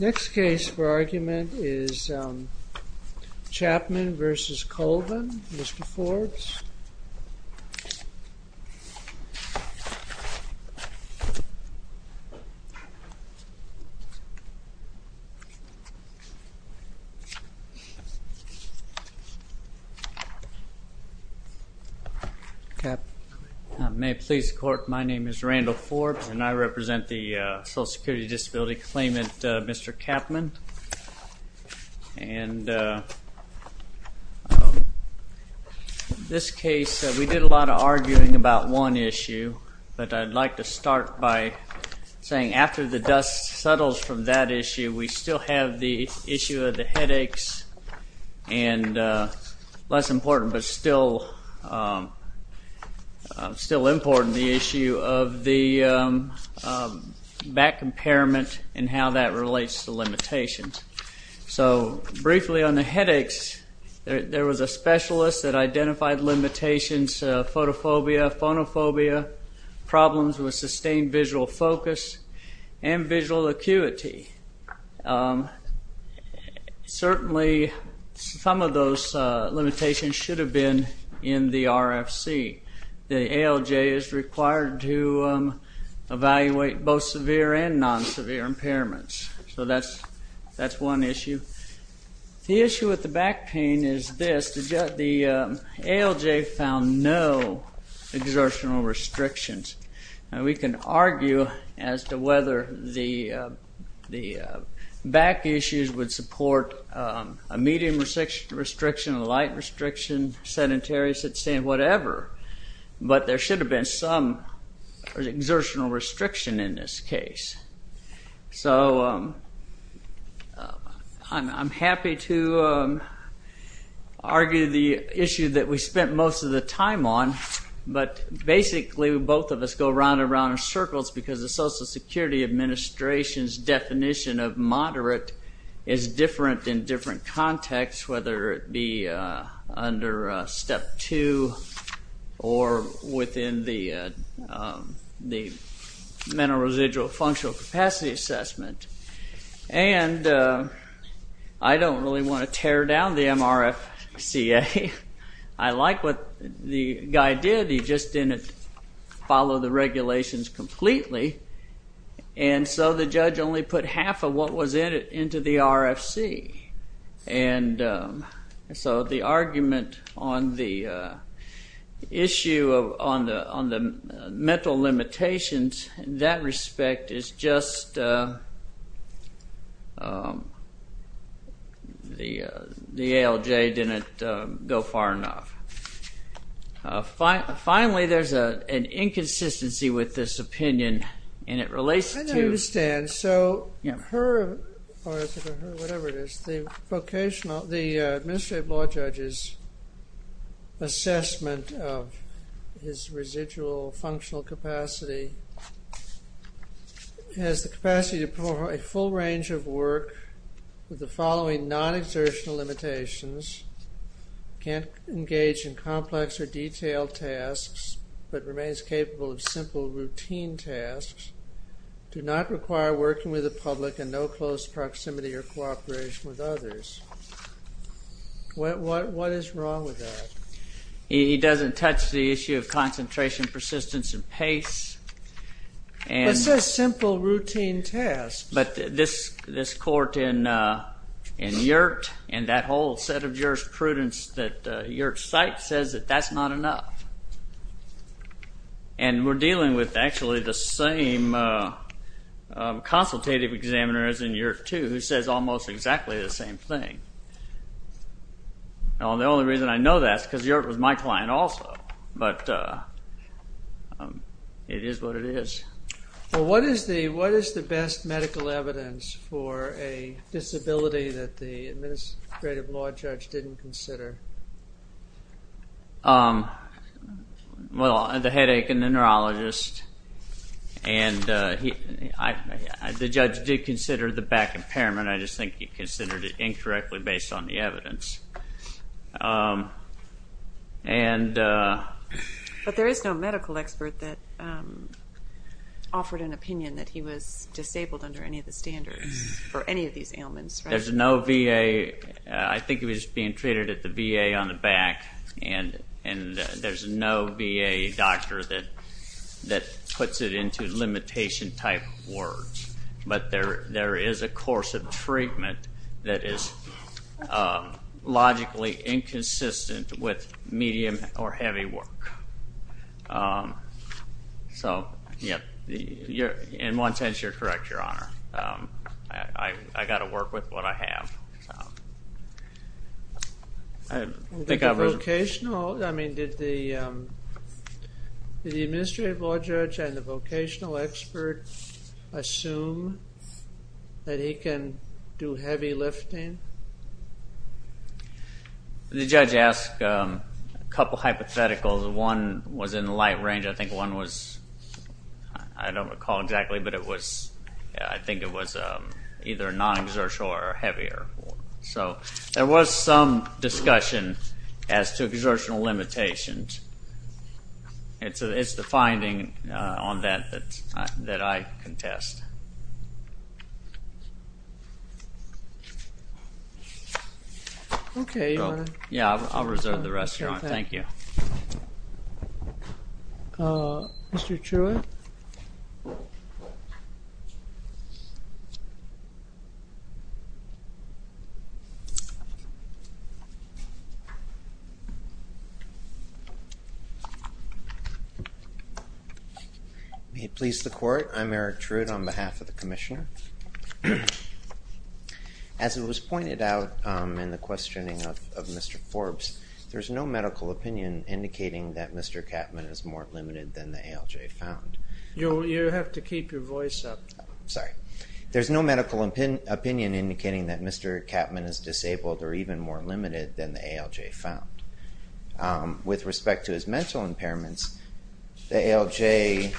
Next case for argument is Chapman v. Colvin. Mr. Forbes. Randall Forbes May it please the court, my name is Randall Forbes and I represent the Social Security Disability Claimant, Mr. Capman. In this case, we did a lot of arguing about one issue, but I'd like to start by saying after the dust settles from that issue, we still have the issue of the headaches and less important but still important, the issue of the back impairment and how that relates to limitations. So briefly on the headaches, there was a specialist that identified limitations, photophobia, phonophobia, problems with sustained visual focus, and visual acuity. Certainly some of those limitations should have been in the RFC. The ALJ is required to evaluate both severe and non-severe impairments. So that's one issue. The issue with the back pain is this, the ALJ found no exertional restrictions. Now we can argue as to whether the back issues would support a medium restriction, a light restriction, sedentary, whatever, but there should have been some exertional restriction in this case. So I'm happy to argue the issue that we spent most of the time on, but basically both of us go round and round in circles because the Social Security Administration's definition of moderate is under Step 2 or within the Mental Residual Functional Capacity Assessment, and I don't really want to tear down the MRFCA. I like what the guy did, he just didn't follow the argument on the issue on the mental limitations. In that respect, it's just the ALJ didn't go far enough. Finally, there's an inconsistency with this opinion, and it relates to... The ALJ's assessment of his residual functional capacity has the capacity to perform a full range of work with the following non-exertional limitations. Can't engage in complex or detailed tasks, but remains capable of simple routine tasks. Do not require working with the public in no close proximity or cooperation with others. What is wrong with that? He doesn't touch the issue of concentration, persistence, and pace. But it says simple routine tasks. But this court in Yurt and that whole set of jurisprudence that Yurt cites says that that's not enough. And we're dealing with actually the same consultative examiners in Yurt too, who says almost exactly the same thing. The only reason I know that is because Yurt was my client also, but it is what it is. What is the best medical evidence for a disability that the administrative law judge didn't consider? Well, the headache and the neurologist. The judge did consider the back impairment, I just think he considered it incorrectly based on the evidence. But there is no medical expert that offered an opinion that he was disabled under any of the standards for any of these ailments, right? There's no VA, I think he was being treated at the VA on the back, and there's no VA doctor that puts it into limitation type words. But there is a course of treatment that is logically inconsistent with medium or heavy work. So in one sense, you're correct, Your Honor. I've got to work with what I have. Did the administrative law judge and the vocational expert assume that he can do heavy lifting? The judge asked a couple of hypotheticals. One was in the light range. I think one was, I don't recall exactly, but I think it was either non-exertional or heavier. So there was some discussion as to exertional limitations. It's the finding on that that I contest. OK, Your Honor. Yeah, I'll reserve the rest, Your Honor. Thank you. Mr. Truitt? May it please the Court, I'm Eric Truitt on behalf of the Commissioner. As it was pointed out in the questioning of Mr. Forbes, there's no medical opinion indicating that Mr. Catman is more limited than the ALJ found. You have to keep your voice up. Sorry. There's no medical opinion indicating that Mr. Catman is disabled or even more limited than the ALJ found. With respect to his mental impairments, the ALJ,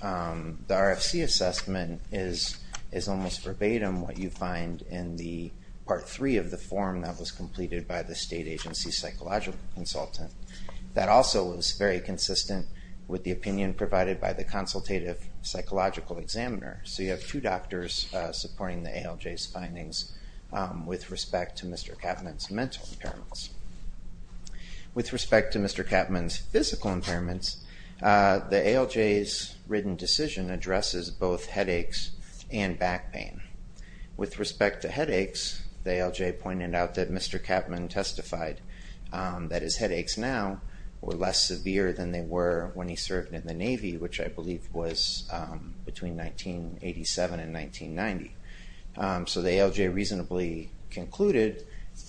the RFC assessment is almost verbatim what you find in the Part 3 of the form that was completed by the State Agency Psychological Consultant. That also was very consistent with the opinion provided by the consultative psychological examiner. So you have two doctors supporting the ALJ's findings with respect to Mr. Catman's mental impairments. With respect to Mr. Catman's physical impairments, the ALJ's written decision addresses both pain. With respect to headaches, the ALJ pointed out that Mr. Catman testified that his headaches now were less severe than they were when he served in the Navy, which I believe was between 1987 and 1990. So the ALJ reasonably concluded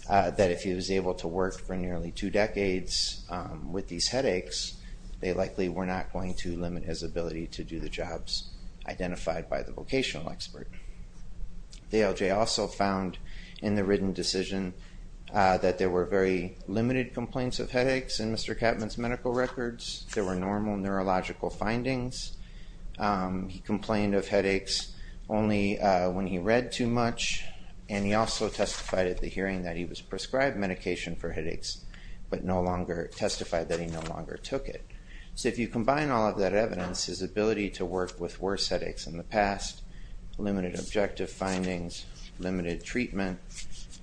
that if he was able to work for nearly two decades with these headaches, they likely were not going to limit his ability to do the jobs identified by the vocational expert. The ALJ also found in the written decision that there were very limited complaints of headaches in Mr. Catman's medical records. There were normal neurological findings. He complained of headaches only when he read too much, and he also testified at the hearing that he was prescribed medication for headaches, but no longer testified that he no longer had evidence. His ability to work with worse headaches in the past, limited objective findings, limited treatment,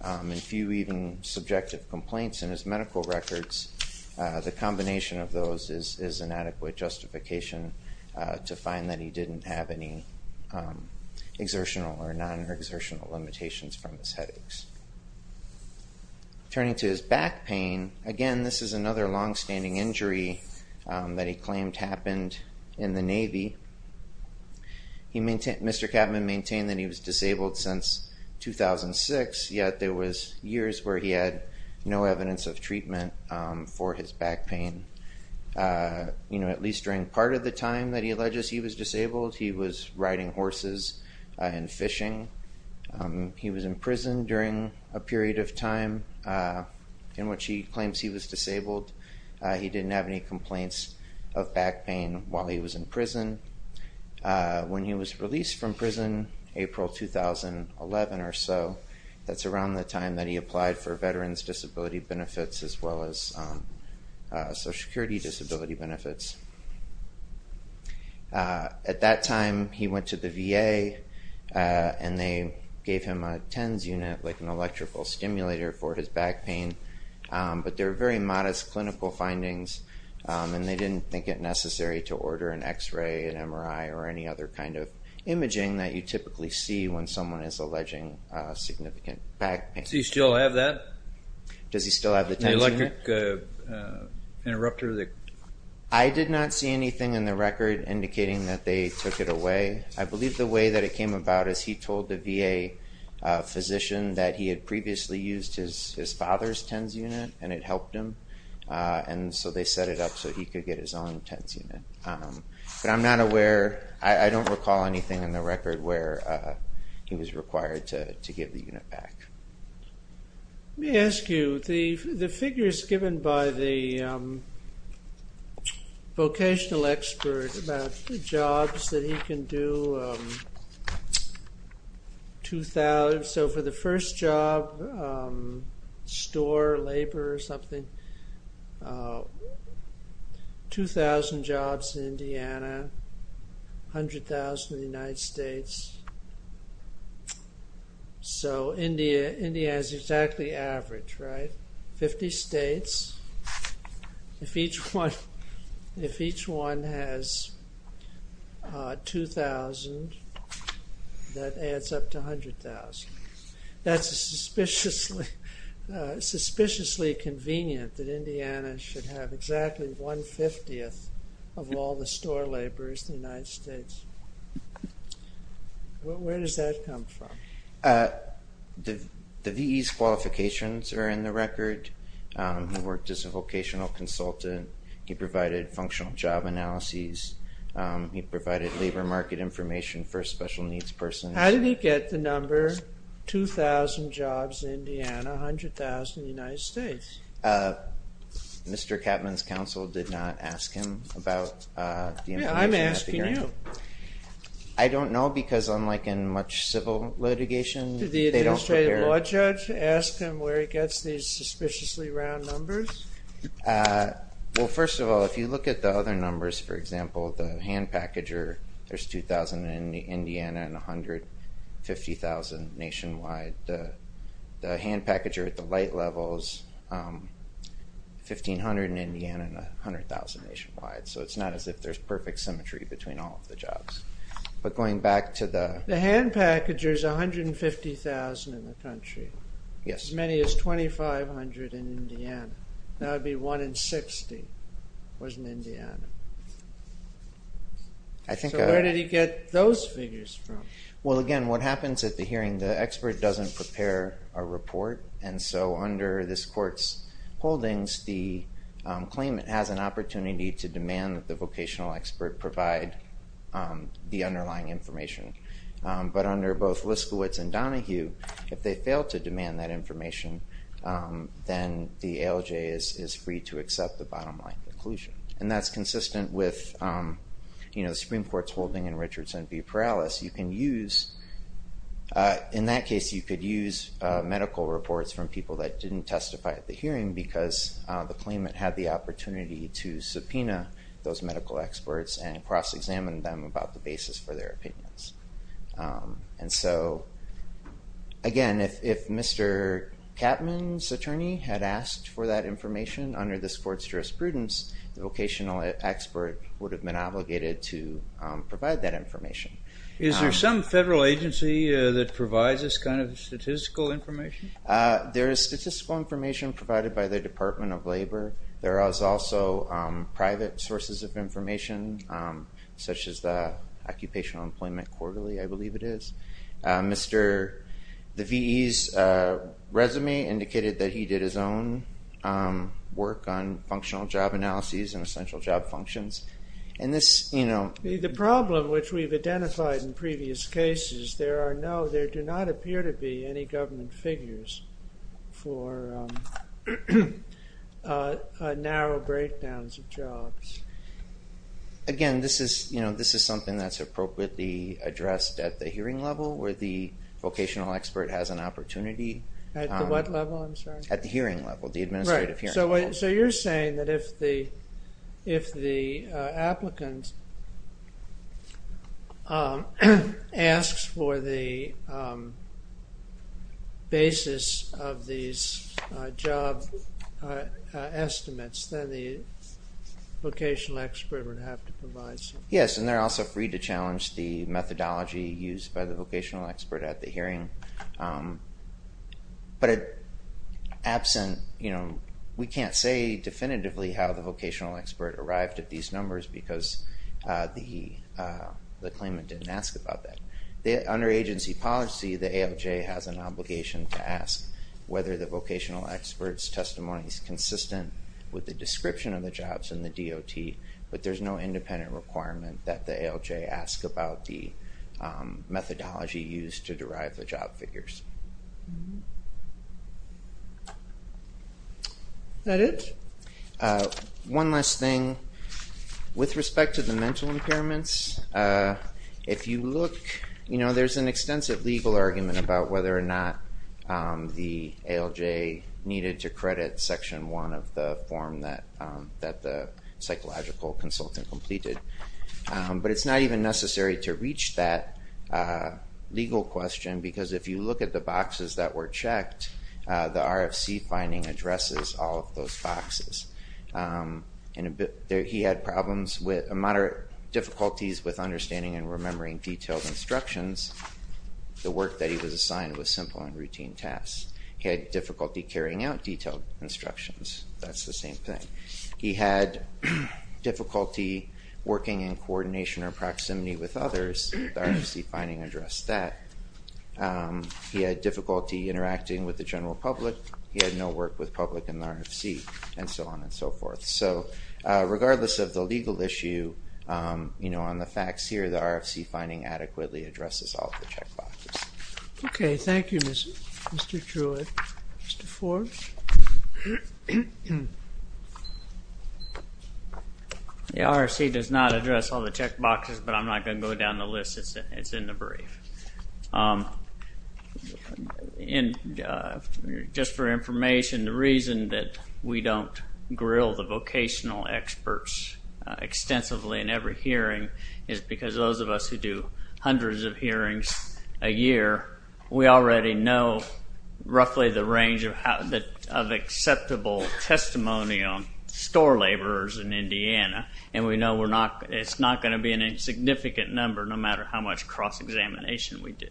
and few even subjective complaints in his medical records, the combination of those is an adequate justification to find that he didn't have any exertional or non-exertional limitations from his headaches. Turning to his back pain, again, this is another longstanding injury that he claimed happened in the Navy. Mr. Catman maintained that he was disabled since 2006, yet there was years where he had no evidence of treatment for his back pain. At least during part of the time that he alleges he was disabled, he was riding horses and fishing. He was in prison during a period of time in which he claims he was disabled. He didn't have any complaints of back pain while he was in prison. When he was released from prison, April 2011 or so, that's around the time that he applied for Veterans Disability Benefits as well as Social Security Disability Benefits. At that time, he went to the VA, and they gave him a TENS unit, like an electrical stimulator for his back pain. But they're very modest clinical findings, and they didn't think it necessary to order an X-ray, an MRI, or any other kind of imaging that you typically see when someone is alleging significant back pain. Do you still have that? Does he still have the TENS unit? The electric interrupter that... I did not see anything in the record indicating that they took it away. I believe the way that it came about is he told the VA physician that he had previously used his father's TENS unit, and it helped him, and so they set it up so he could get his own TENS unit. But I'm not aware... I don't recall anything in the record where he was required to give the unit back. Let me ask you, the figures given by the vocational expert about the jobs that he can do, the 2,000... So, for the first job, store, labor, or something, 2,000 jobs in Indiana, 100,000 in the United States. So, India has exactly average, right? 50 states. If each one has 2,000, that adds up to 100,000. That's suspiciously convenient that Indiana should have exactly one-fiftieth of all the store laborers in the United States. Where does that come from? The VE's qualifications are in the record. He worked as a vocational consultant. He provided labor market information for a special needs person. How did he get the number 2,000 jobs in Indiana, 100,000 in the United States? Mr. Capman's counsel did not ask him about the information. Yeah, I'm asking you. I don't know, because unlike in much civil litigation, they don't prepare... Did the administrative law judge ask him where he gets these suspiciously round numbers? Well, first of all, if you look at the other numbers, for example, the hand packager, there's 2,000 in Indiana and 150,000 nationwide. The hand packager at the light levels, 1,500 in Indiana and 100,000 nationwide. So, it's not as if there's perfect symmetry between all of the jobs. But going back to the... The hand packager's 150,000 in the country. Yes. As many as 2,500 in Indiana. That would be 1 in 60 was in Indiana. So, where did he get those figures from? Well, again, what happens at the hearing, the expert doesn't prepare a report. And so, under this court's holdings, the claimant has an opportunity to demand that the vocational expert provide the underlying information. But under both then the ALJ is free to accept the bottom line conclusion. And that's consistent with the Supreme Court's holding in Richardson v. Perales. You can use... In that case, you could use medical reports from people that didn't testify at the hearing because the claimant had the opportunity to subpoena those medical experts and cross-examine them about the basis for their opinions. And so, again, if Mr. Capman's attorney had asked for that information under this court's jurisprudence, the vocational expert would have been obligated to provide that information. Is there some federal agency that provides this kind of statistical information? There is statistical information provided by the Department of Labor. There is also private sources of information, such as the Occupational Employment Quarterly, I believe it is. Mr. Ve's resume indicated that he did his own work on functional job analyses and essential job functions. And this, you know... The problem, which we've identified in previous cases, there are no, there do not appear to be any government figures for narrow breakdowns of jobs. Again, this is, you know, this is something that's appropriately addressed at the hearing level, where the vocational expert has an opportunity... At what level, I'm sorry? At the hearing level, the administrative hearing level. So you're saying that if the applicant asks for the basis of these job estimates, then the vocational expert would have to provide some... Yes, and they're also free to challenge the methodology used by the vocational expert at the hearing. But absent, you know, we can't say definitively how the vocational expert arrived at these numbers because the claimant didn't ask about that. Under agency policy, the ALJ has an obligation to ask whether the vocational expert's testimony is consistent with the description of the jobs in the DOT, but there's no independent requirement that the ALJ ask about the methodology used to derive the job figures. Is that it? One last thing. With respect to the mental impairments, if you look, you know, there's an extensive legal argument about whether or not the ALJ needed to credit Section 1 of the form that the psychological consultant completed. But it's not even necessary to reach that legal question because if you look at the boxes that were checked, the RFC finding addresses all of those boxes. He had moderate difficulties with understanding and remembering detailed instructions. The work that he was assigned was simple and routine tasks. He had difficulty carrying out detailed instructions. That's the same thing. He had difficulty working in coordination or proximity with others. The RFC finding addressed that. He had difficulty interacting with the general public. He had no work with public in the RFC, and so on and so forth. So regardless of the legal issue, you know, on the facts here, the RFC finding adequately addresses all of the check boxes. Okay. Thank you, Mr. Truitt. Mr. Forbes? The RFC does not address all the check boxes, but I'm not going to go down the list. It's in the brief. Just for information, the reason that we don't grill the vocational experts extensively in every hearing is because those of us who do hundreds of hearings a year, we already know roughly the range of acceptable testimony on store laborers in Indiana, and we know it's not going to be a significant number no matter how much cross-examination we do.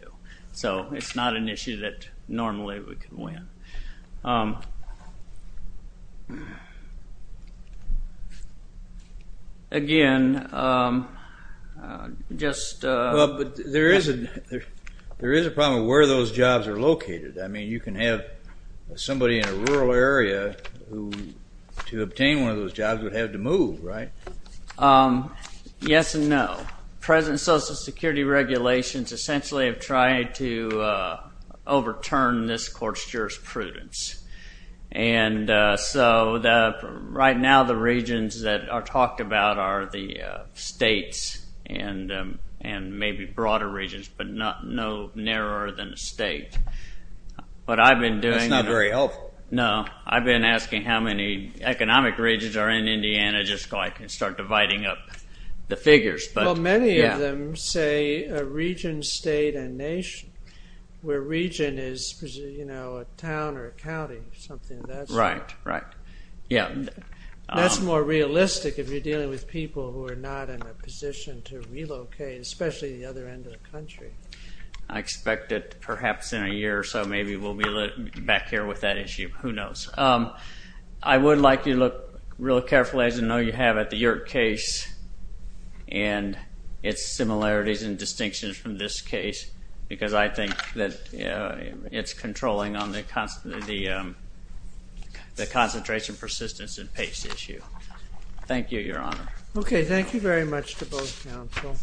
So it's not an issue that normally we can win. Again, just... Well, but there is a problem of where those jobs are located. I mean, you can have somebody in a rural area who, to obtain one of those jobs, would have to move, right? Yes and no. Present Social Security regulations essentially have tried to overturn this court's jurisprudence. And so right now the regions that are talked about are the states and maybe broader regions, but no narrower than the state. That's not very helpful. No. I've been asking how many economic regions are in Indiana just so I can start dividing up the figures. Well, many of them say a region, state, and nation, where region is a town or a county or something of that sort. Right, right. Yeah. That's more realistic if you're dealing with people who are not in a position to relocate, especially the other end of the country. I expect that perhaps in a year or so maybe we'll be back here with that issue. Who knows? I would like you to look real carefully, as I know you have, at the York case and its similarities and distinctions from this case because I think that it's controlling on the concentration, persistence, and pace issue. Thank you, Your Honor. Okay. Thank you very much to both counsel.